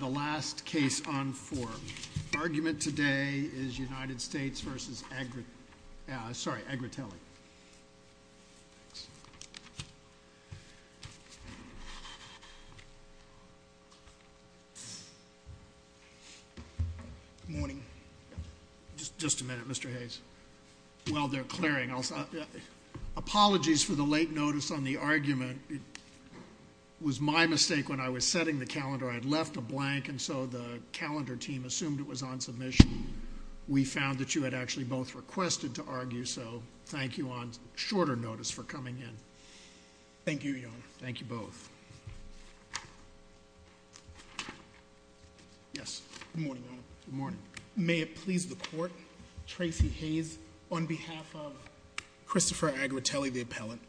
The last case on for argument today is United States v. Agra. Sorry, Agra telly. Morning. Just just a minute, Mr. Hayes. Well, they're clearing also apologies for the late notice on the argument. It was my mistake when I was setting the calendar. I had left a blank. And so the calendar team assumed it was on submission. We found that you had actually both requested to argue. So thank you on shorter notice for coming in. Thank you. Thank you both. Yes. Good morning. Good morning. May it please the court. Tracy Hayes on behalf of Christopher Agra telly the appellant.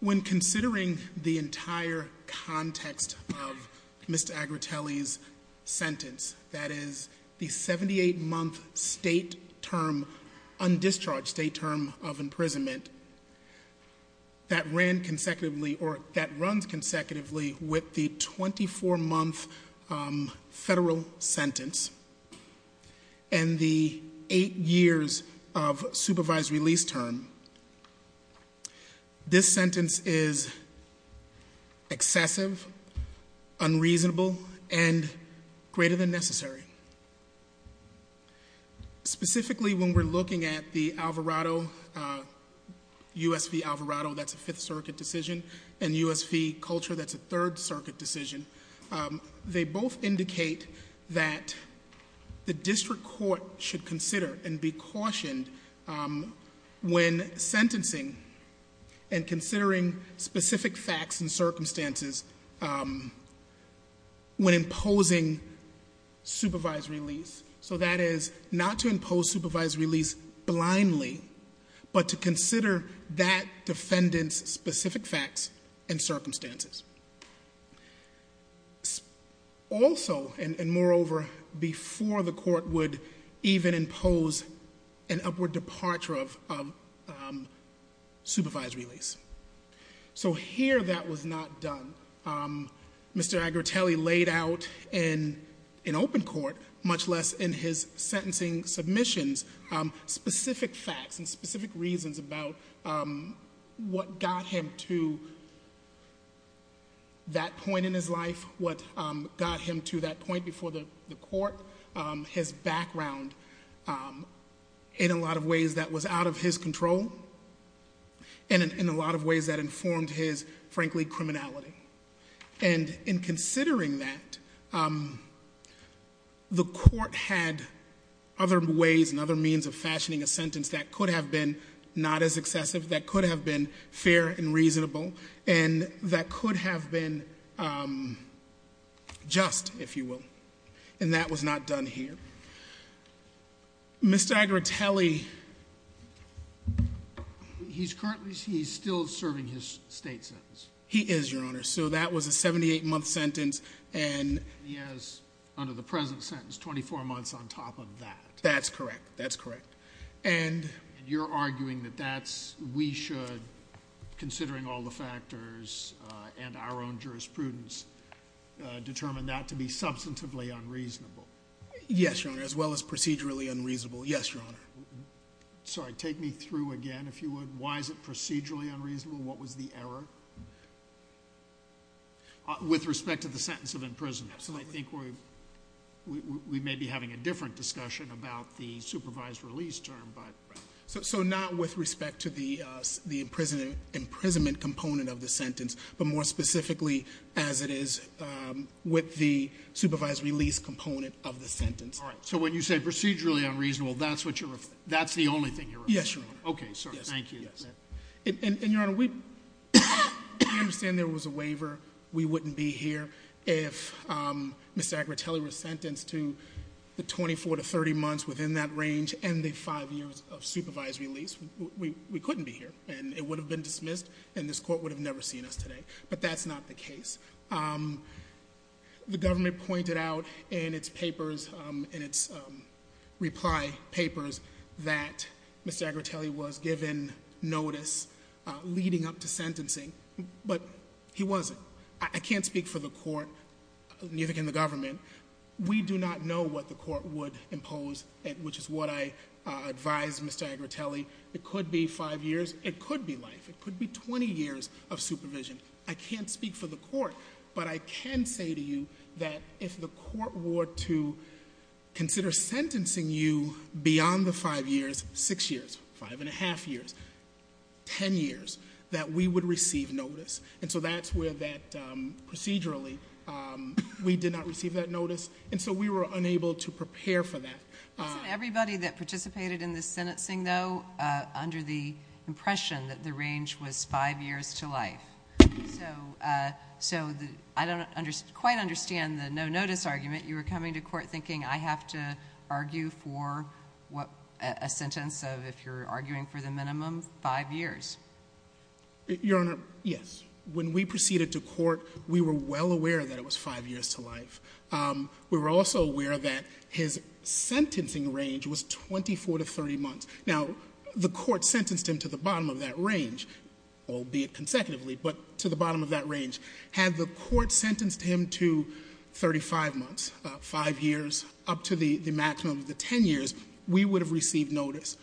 When considering the entire context of Mr. Agra telly's sentence, that is the 78 month state term on discharge state term of imprisonment. That ran consecutively or that runs consecutively with the 24 month federal sentence. And the eight years of supervised release term. This sentence is excessive, unreasonable and greater than necessary. Specifically, when we're looking at the Alvarado, U.S. v. Alvarado, that's a fifth circuit decision and U.S. v. Culture, that's a third circuit decision. They both indicate that the district court should consider and be cautioned when sentencing. And considering specific facts and circumstances when imposing supervised release. So that is not to impose supervised release blindly, but to consider that defendant's specific facts and circumstances. Also, and moreover, before the court would even impose an upward departure of supervised release. So here that was not done. Mr. Agra telly laid out in open court, much less in his sentencing submissions, specific facts and specific reasons about what got him to that point in his life. What got him to that point before the court. His background in a lot of ways that was out of his control. And in a lot of ways that informed his, frankly, criminality. And in considering that, the court had other ways and other means of fashioning a sentence that could have been not as excessive. That could have been fair and reasonable. And that could have been just, if you will. And that was not done here. Mr. Agra telly, he's currently, he's still serving his state sentence. He is your honor. So that was a 78 month sentence. And he has under the present sentence, 24 months on top of that. That's correct. That's correct. And you're arguing that that's, we should considering all the factors and our own jurisprudence determined that to be substantively unreasonable. Yes, your honor. As well as procedurally unreasonable. Yes, your honor. Sorry. Take me through again. If you would. Why is it procedurally unreasonable? What was the error? With respect to the sentence of imprisonment. Absolutely. So I think we may be having a different discussion about the supervised release term. So not with respect to the imprisonment component of the sentence. But more specifically as it is with the supervised release component of the sentence. All right. So when you say procedurally unreasonable, that's the only thing you're referring to? Yes, your honor. Okay. Thank you. And your honor, we understand there was a waiver. We wouldn't be here if Mr. Agritelli was sentenced to the 24 to 30 months within that range and the five years of supervised release. We couldn't be here. And it would have been dismissed and this court would have never seen us today. But that's not the case. The government pointed out in its papers, in its reply papers, that Mr. Agritelli was given notice leading up to sentencing. But he wasn't. I can't speak for the court, neither can the government. We do not know what the court would impose, which is what I advise Mr. Agritelli. It could be five years. It could be life. It could be 20 years of supervision. I can't speak for the court, but I can say to you that if the court were to consider sentencing you beyond the five years, six years, five and a half years, ten years, that we would receive notice. And so that's where that procedurally, we did not receive that notice. And so we were unable to prepare for that. Wasn't everybody that participated in this sentencing, though, under the impression that the range was five years to life? So I don't quite understand the no notice argument. You were coming to court thinking, I have to argue for a sentence of, if you're arguing for the minimum, five years. Your Honor, yes. When we proceeded to court, we were well aware that it was five years to life. We were also aware that his sentencing range was 24 to 30 months. Now, the court sentenced him to the bottom of that range, albeit consecutively, but to the bottom of that range. Had the court sentenced him to 35 months, five years, up to the maximum of the ten years, we would have received notice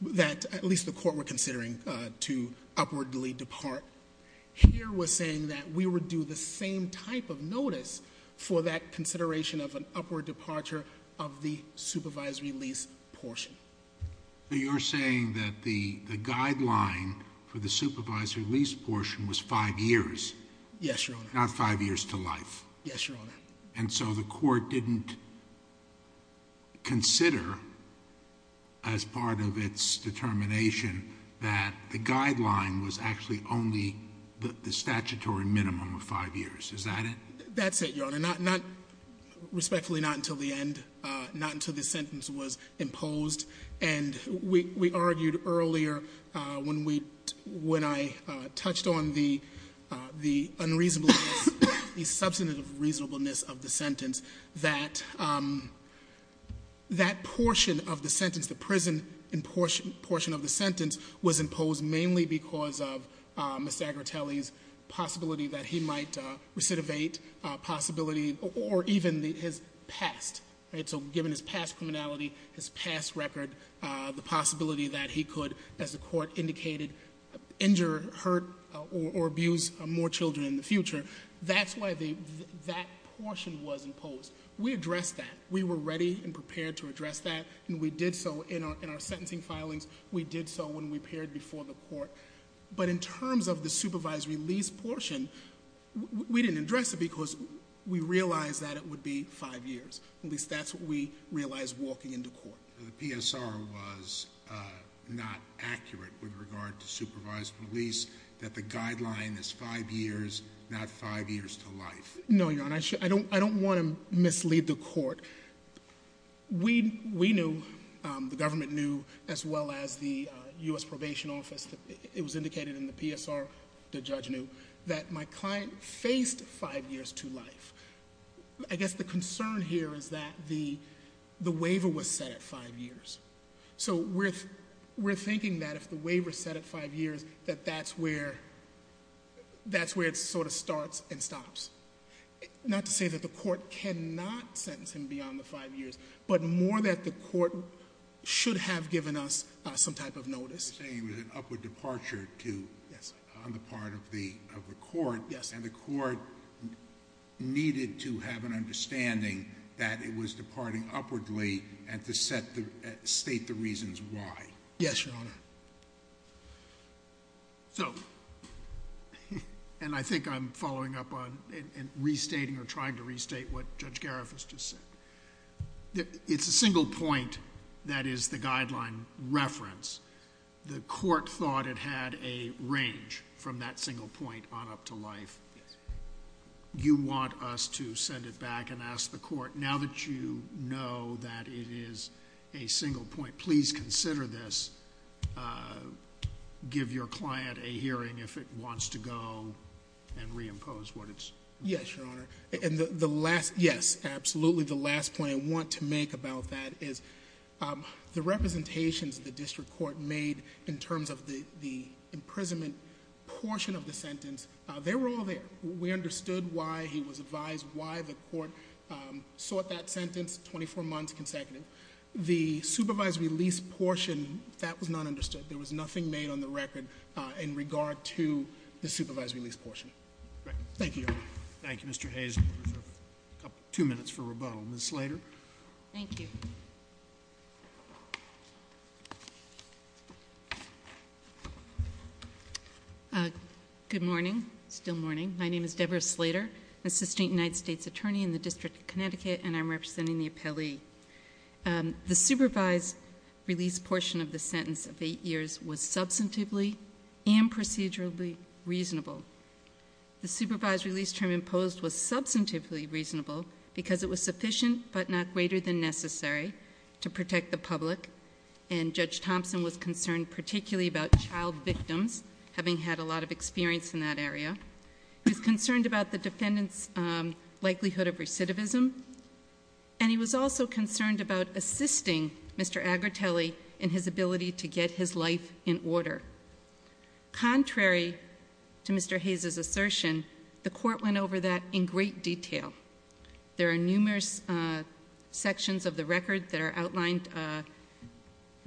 that at least the court were considering to upwardly depart. Here we're saying that we would do the same type of notice for that consideration of an upward departure of the supervisory lease portion. So you're saying that the guideline for the supervisory lease portion was five years? Yes, Your Honor. Not five years to life? Yes, Your Honor. And so the court didn't consider, as part of its determination, that the guideline was actually only the statutory minimum of five years. Is that it? That's it, Your Honor. Respectfully, not until the end, not until the sentence was imposed. And we argued earlier, when I touched on the unreasonable, the substantive reasonableness of the sentence, that that portion of the sentence, the prison portion of the sentence, was imposed mainly because of Mr. Agritelli's possibility that he might recidivate. Possibility, or even his past. So given his past criminality, his past record, the possibility that he could, as the court indicated, injure, hurt, or abuse more children in the future. That's why that portion was imposed. We addressed that. We were ready and prepared to address that, and we did so in our sentencing filings. We did so when we appeared before the court. But in terms of the supervisory lease portion, we didn't address it because we realized that it would be five years. At least that's what we realized walking into court. The PSR was not accurate with regard to supervisory lease, that the guideline is five years, not five years to life. No, Your Honor. I don't want to mislead the court. We knew, the government knew, as well as the U.S. Probation Office, it was indicated in the PSR, the judge knew, that my client faced five years to life. I guess the concern here is that the waiver was set at five years. We're thinking that if the waiver is set at five years, that that's where it sort of starts and stops. Not to say that the court cannot sentence him beyond the five years, but more that the court should have given us some type of notice. You're saying it was an upward departure on the part of the court, and the court needed to have an understanding that it was departing upwardly and to state the reasons why. Yes, Your Honor. I think I'm following up on restating or trying to restate what Judge Gariff has just said. It's a single point that is the guideline reference. The court thought it had a range from that single point on up to life. Now that you know that it is a single point, please consider this. Give your client a hearing if it wants to go and reimpose what it's— Yes, Your Honor. Yes, absolutely. The last point I want to make about that is the representations the district court made in terms of the imprisonment portion of the sentence, they were all there. We understood why he was advised, why the court sought that sentence 24 months consecutive. The supervised release portion, that was not understood. There was nothing made on the record in regard to the supervised release portion. Thank you, Your Honor. Thank you, Mr. Hayes. Two minutes for rebuttal. Ms. Slater. Thank you. Good morning. It's still morning. My name is Deborah Slater, assistant United States attorney in the District of Connecticut, and I'm representing the appellee. The supervised release portion of the sentence of eight years was substantively and procedurally reasonable. The supervised release term imposed was substantively reasonable because it was sufficient but not greater than necessary to protect the public, and Judge Thompson was concerned particularly about child victims, having had a lot of experience in that area. He was concerned about the defendant's likelihood of recidivism, and he was also concerned about assisting Mr. Agritelli in his ability to get his life in order. Contrary to Mr. Hayes' assertion, the court went over that in great detail. There are numerous sections of the record that are outlined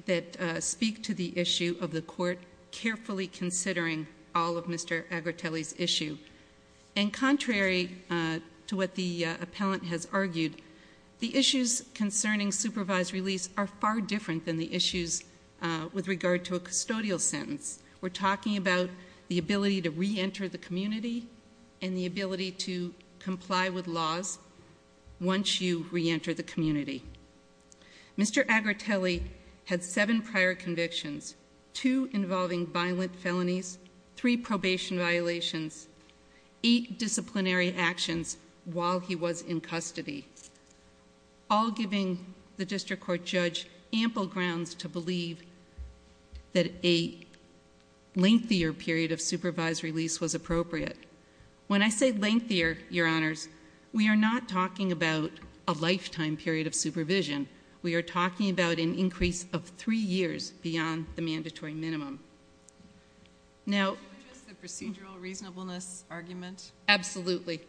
that speak to the issue of the court carefully considering all of Mr. Agritelli's issue, and contrary to what the appellant has argued, the issues concerning supervised release are far different than the issues with regard to a custodial sentence. We're talking about the ability to reenter the community and the ability to comply with laws once you reenter the community. Mr. Agritelli had seven prior convictions, two involving violent felonies, three probation violations, eight disciplinary actions while he was in custody, all giving the district court judge ample grounds to believe that a lengthier period of supervised release was appropriate. When I say lengthier, Your Honors, we are not talking about a lifetime period of supervision. We are talking about an increase of three years beyond the mandatory minimum. Now— Can you address the procedural reasonableness argument? Absolutely.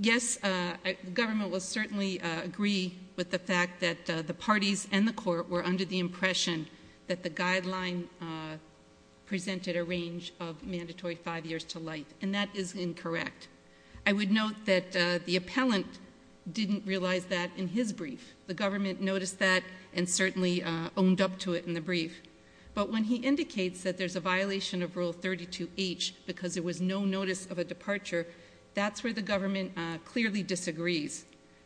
Yes, the government will certainly agree with the fact that the parties and the court were under the impression that the guideline presented a range of mandatory five years to life, and that is incorrect. I would note that the appellant didn't realize that in his brief. The government noticed that and certainly owned up to it in the brief. But when he indicates that there's a violation of Rule 32H because there was no notice of a departure, that's where the government clearly disagrees.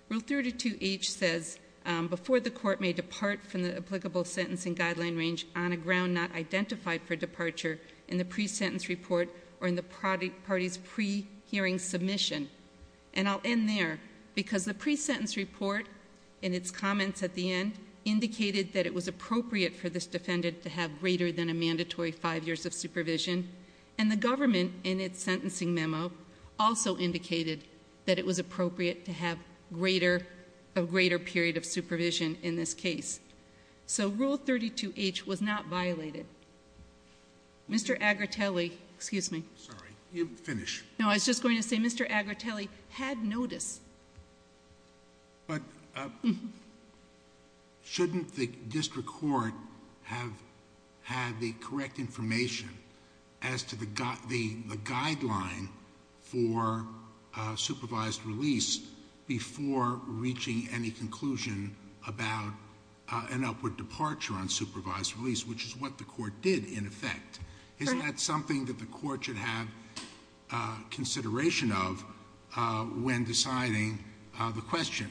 Rule 32H says before the court may depart from the applicable sentencing guideline range on a ground not identified for departure in the pre-sentence report or in the party's pre-hearing submission. And I'll end there, because the pre-sentence report, in its comments at the end, indicated that it was appropriate for this defendant to have greater than a mandatory five years of supervision, and the government, in its sentencing memo, also indicated that it was appropriate to have a greater period of supervision in this case. So Rule 32H was not violated. Mr. Agritelli—excuse me. Sorry. Finish. No, I was just going to say Mr. Agritelli had notice. But shouldn't the district court have had the correct information as to the guideline for supervised release before reaching any conclusion about an upward departure on supervised release, which is what the court did in effect? Is that something that the court should have consideration of when deciding the question?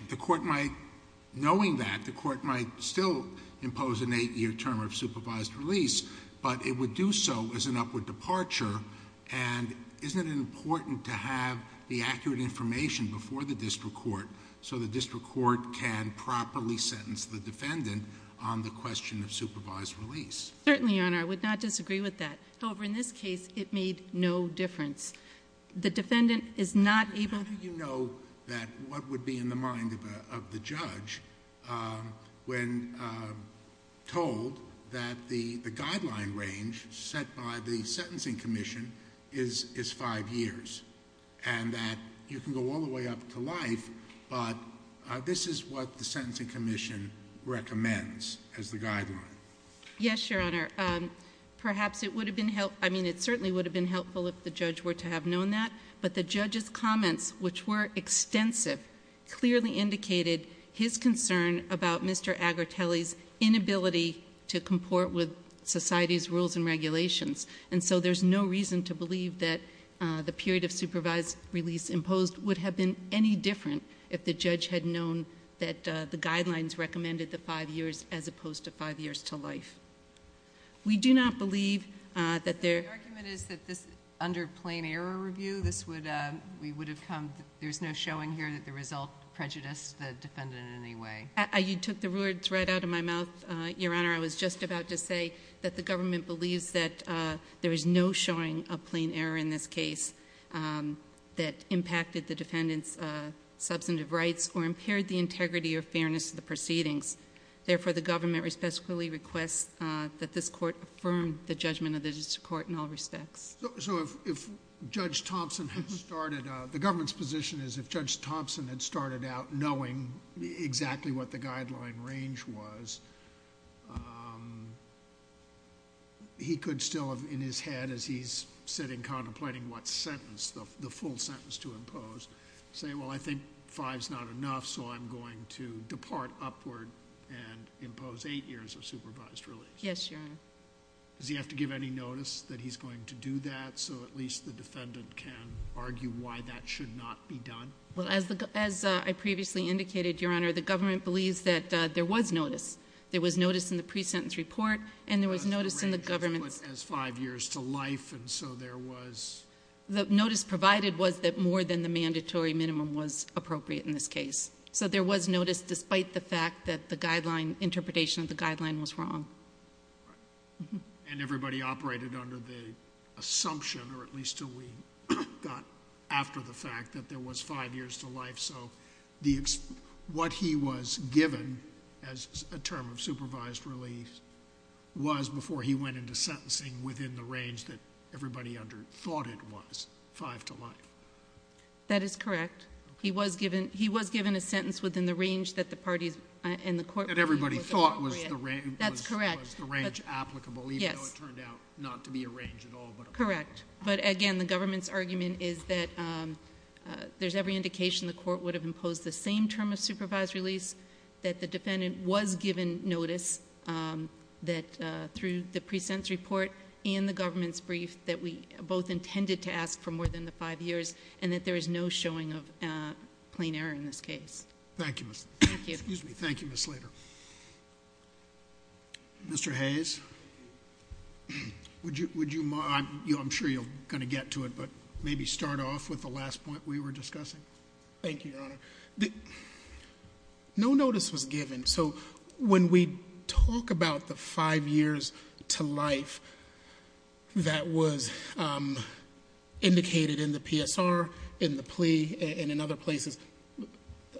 Knowing that, the court might still impose an eight-year term of supervised release, but it would do so as an upward departure. And isn't it important to have the accurate information before the district court so the district court can properly sentence the defendant on the question of supervised release? Certainly, Your Honor. I would not disagree with that. However, in this case, it made no difference. The defendant is not able— How do you know that what would be in the mind of the judge when told that the guideline range set by the Sentencing Commission is five years, and that you can go all the way up to life, but this is what the Sentencing Commission recommends as the guideline? Yes, Your Honor. Perhaps it would have been helpful— I mean, it certainly would have been helpful if the judge were to have known that, but the judge's comments, which were extensive, clearly indicated his concern about Mr. Agritelli's inability to comport with society's rules and regulations. And so there's no reason to believe that the period of supervised release imposed would have been any different if the judge had known that the guidelines recommended the five years as opposed to five years to life. We do not believe that there— The argument is that under plain error review, this would—we would have come— there's no showing here that the result prejudiced the defendant in any way. You took the word right out of my mouth, Your Honor. I was just about to say that the government believes that there is no showing of plain error in this case that impacted the defendant's substantive rights or impaired the integrity or fairness of the proceedings. Therefore, the government respectfully requests that this court affirm the judgment of this court in all respects. So if Judge Thompson had started out— the government's position is if Judge Thompson had started out knowing exactly what the guideline range was, he could still have, in his head, as he's sitting contemplating what sentence, the full sentence to impose, say, well, I think five's not enough, so I'm going to depart upward and impose eight years of supervised release. Yes, Your Honor. Does he have to give any notice that he's going to do that so at least the defendant can argue why that should not be done? Well, as I previously indicated, Your Honor, the government believes that there was notice. There was notice in the pre-sentence report, and there was notice in the government's— As five years to life, and so there was— The notice provided was that more than the mandatory minimum was appropriate in this case. So there was notice despite the fact that the interpretation of the guideline was wrong. And everybody operated under the assumption, or at least until we got after the fact, that there was five years to life. So what he was given as a term of supervised release was, before he went into sentencing, within the range that everybody thought it was, five to life. That is correct. He was given a sentence within the range that the parties and the court— That everybody thought was the range applicable, even though it turned out not to be a range at all. Correct. But again, the government's argument is that there's every indication the court would have imposed the same term of supervised release, that the defendant was given notice, that through the pre-sentence report and the government's brief, that we both intended to ask for more than the five years, and that there is no showing of plain error in this case. Thank you, Ms. Slater. Mr. Hayes, would you—I'm sure you're going to get to it, but maybe start off with the last point we were discussing. Thank you, Your Honor. No notice was given. So when we talk about the five years to life that was indicated in the PSR, in the plea, and in other places,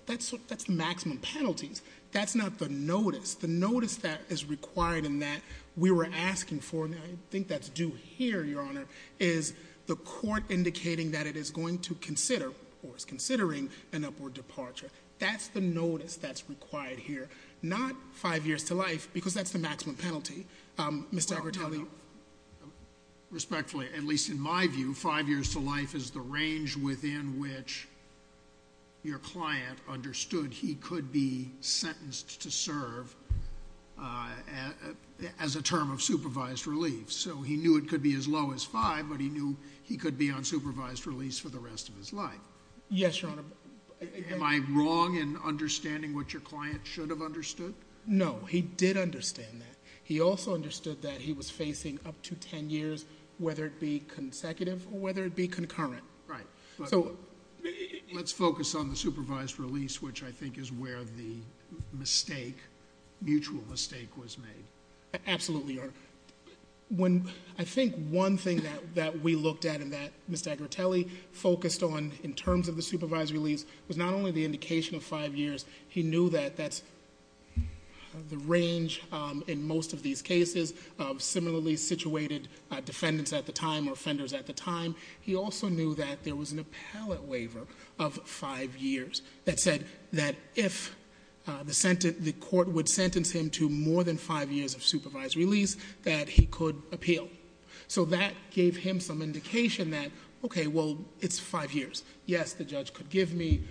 that's the maximum penalties. That's not the notice. The notice that is required and that we were asking for, and I think that's due here, Your Honor, is the court indicating that it is going to consider, or is considering an upward departure. That's the notice that's required here, not five years to life, because that's the maximum penalty. Mr. Agritelli? Respectfully, at least in my view, five years to life is the range within which your client understood he could be sentenced to serve as a term of supervised relief. So he knew it could be as low as five, but he knew he could be on supervised relief for the rest of his life. Yes, Your Honor. Am I wrong in understanding what your client should have understood? No, he did understand that. He also understood that he was facing up to ten years, whether it be consecutive or whether it be concurrent. Right. So— Let's focus on the supervised relief, which I think is where the mistake, mutual mistake, was made. Absolutely, Your Honor. I think one thing that we looked at and that Mr. Agritelli focused on in terms of the supervised relief was not only the indication of five years. He knew that that's the range in most of these cases of similarly situated defendants at the time or offenders at the time. He also knew that there was an appellate waiver of five years that said that if the court would sentence him to more than five years of supervised release, that he could appeal. So that gave him some indication that, okay, well, it's five years. Yes, the judge could give me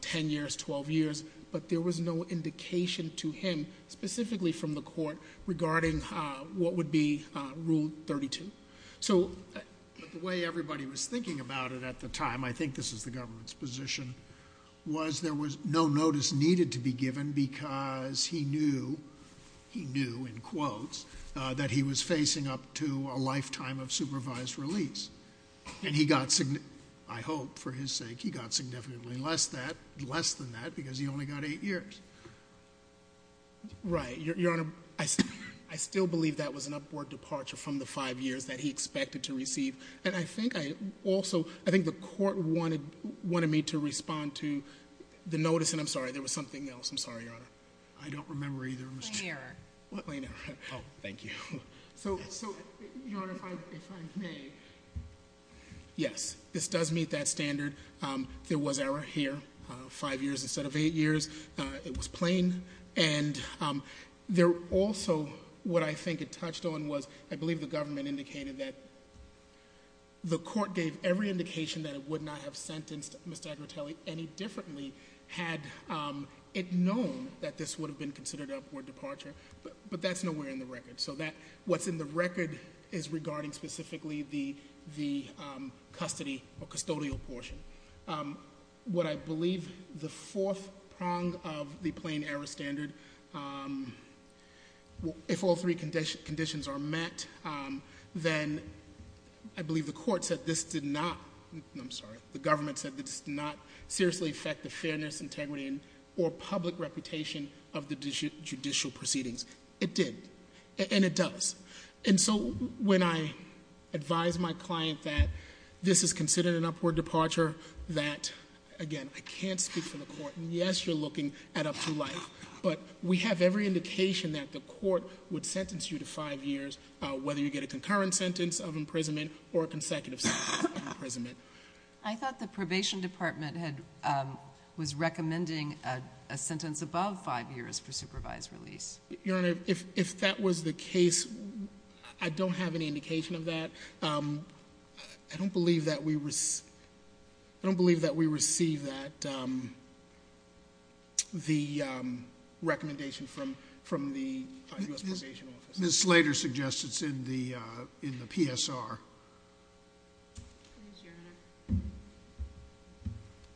ten years, twelve years, but there was no indication to him specifically from the court regarding what would be Rule 32. So the way everybody was thinking about it at the time, I think this is the government's position, was there was no notice needed to be given because he knew, he knew in quotes, that he was facing up to a lifetime of supervised release. And he got, I hope for his sake, he got significantly less than that because he only got eight years. Right. Your Honor, I still believe that was an upward departure from the five years that he expected to receive. And I think I also, I think the court wanted me to respond to the notice, and I'm sorry, there was something else. I'm sorry, Your Honor. I don't remember either. Plain error. Plain error. Oh, thank you. So, Your Honor, if I may. Yes, this does meet that standard. There was error here, five years instead of eight years. It was plain. And there also, what I think it touched on was, I believe the government indicated that the court gave every indication that it would not have sentenced Mr. Agritelli any differently had it known that this would have been considered an upward departure. But that's nowhere in the record. So, what's in the record is regarding specifically the custody or custodial portion. What I believe the fourth prong of the plain error standard, if all three conditions are met, then I believe the court said this did not, I'm sorry, the government said this did not seriously affect the fairness, integrity, or public reputation of the judicial proceedings. It did. And it does. And so, when I advise my client that this is considered an upward departure, that, again, I can't speak for the court. Yes, you're looking at up to life. But we have every indication that the court would sentence you to five years, whether you get a concurrent sentence of imprisonment or a consecutive sentence of imprisonment. I thought the probation department was recommending a sentence above five years for supervised release. Your Honor, if that was the case, I don't have any indication of that. I don't believe that we receive that, the recommendation from the U.S. Probation Office. Ms. Slater suggests it's in the PSR. Please, Your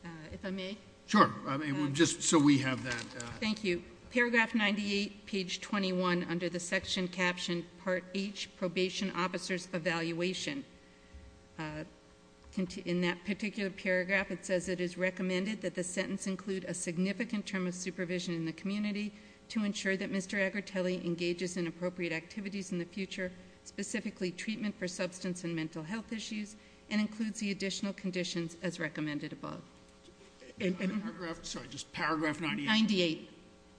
Honor. If I may? Sure. Just so we have that. Thank you. Paragraph 98, page 21, under the section captioned Part H, Probation Officer's Evaluation. In that particular paragraph, it says it is recommended that the sentence include a significant term of supervision in the community to ensure that Mr. Agritelli engages in appropriate activities in the future, specifically treatment for substance and mental health issues, and includes the additional conditions as recommended above. Sorry, just paragraph 98? 98.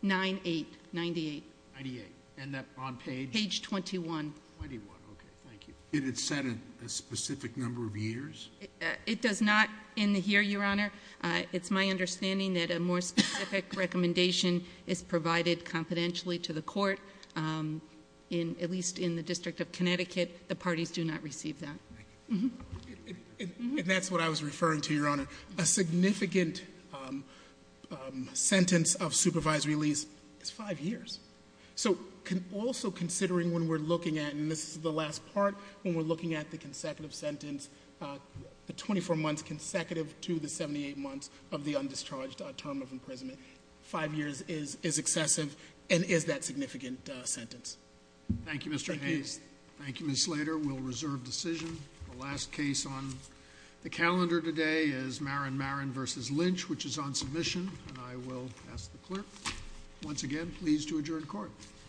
98. 98. 98. And that's on page? Page 21. 21, okay, thank you. It is set at a specific number of years? It does not in here, Your Honor. It's my understanding that a more specific recommendation is provided confidentially to the court, at least in the District of Connecticut. The parties do not receive that. And that's what I was referring to, Your Honor. A significant sentence of supervisory release is five years. So also considering when we're looking at, and this is the last part, when we're looking at the consecutive sentence, the 24 months consecutive to the 78 months of the undischarged term of imprisonment, five years is excessive and is that significant sentence. Thank you, Mr. Hayes. Thank you. Thank you, Ms. Slater. We'll reserve decision. The last case on the calendar today is Marin Marin v. Lynch, which is on submission. And I will ask the clerk, once again, please, to adjourn court. Thank you.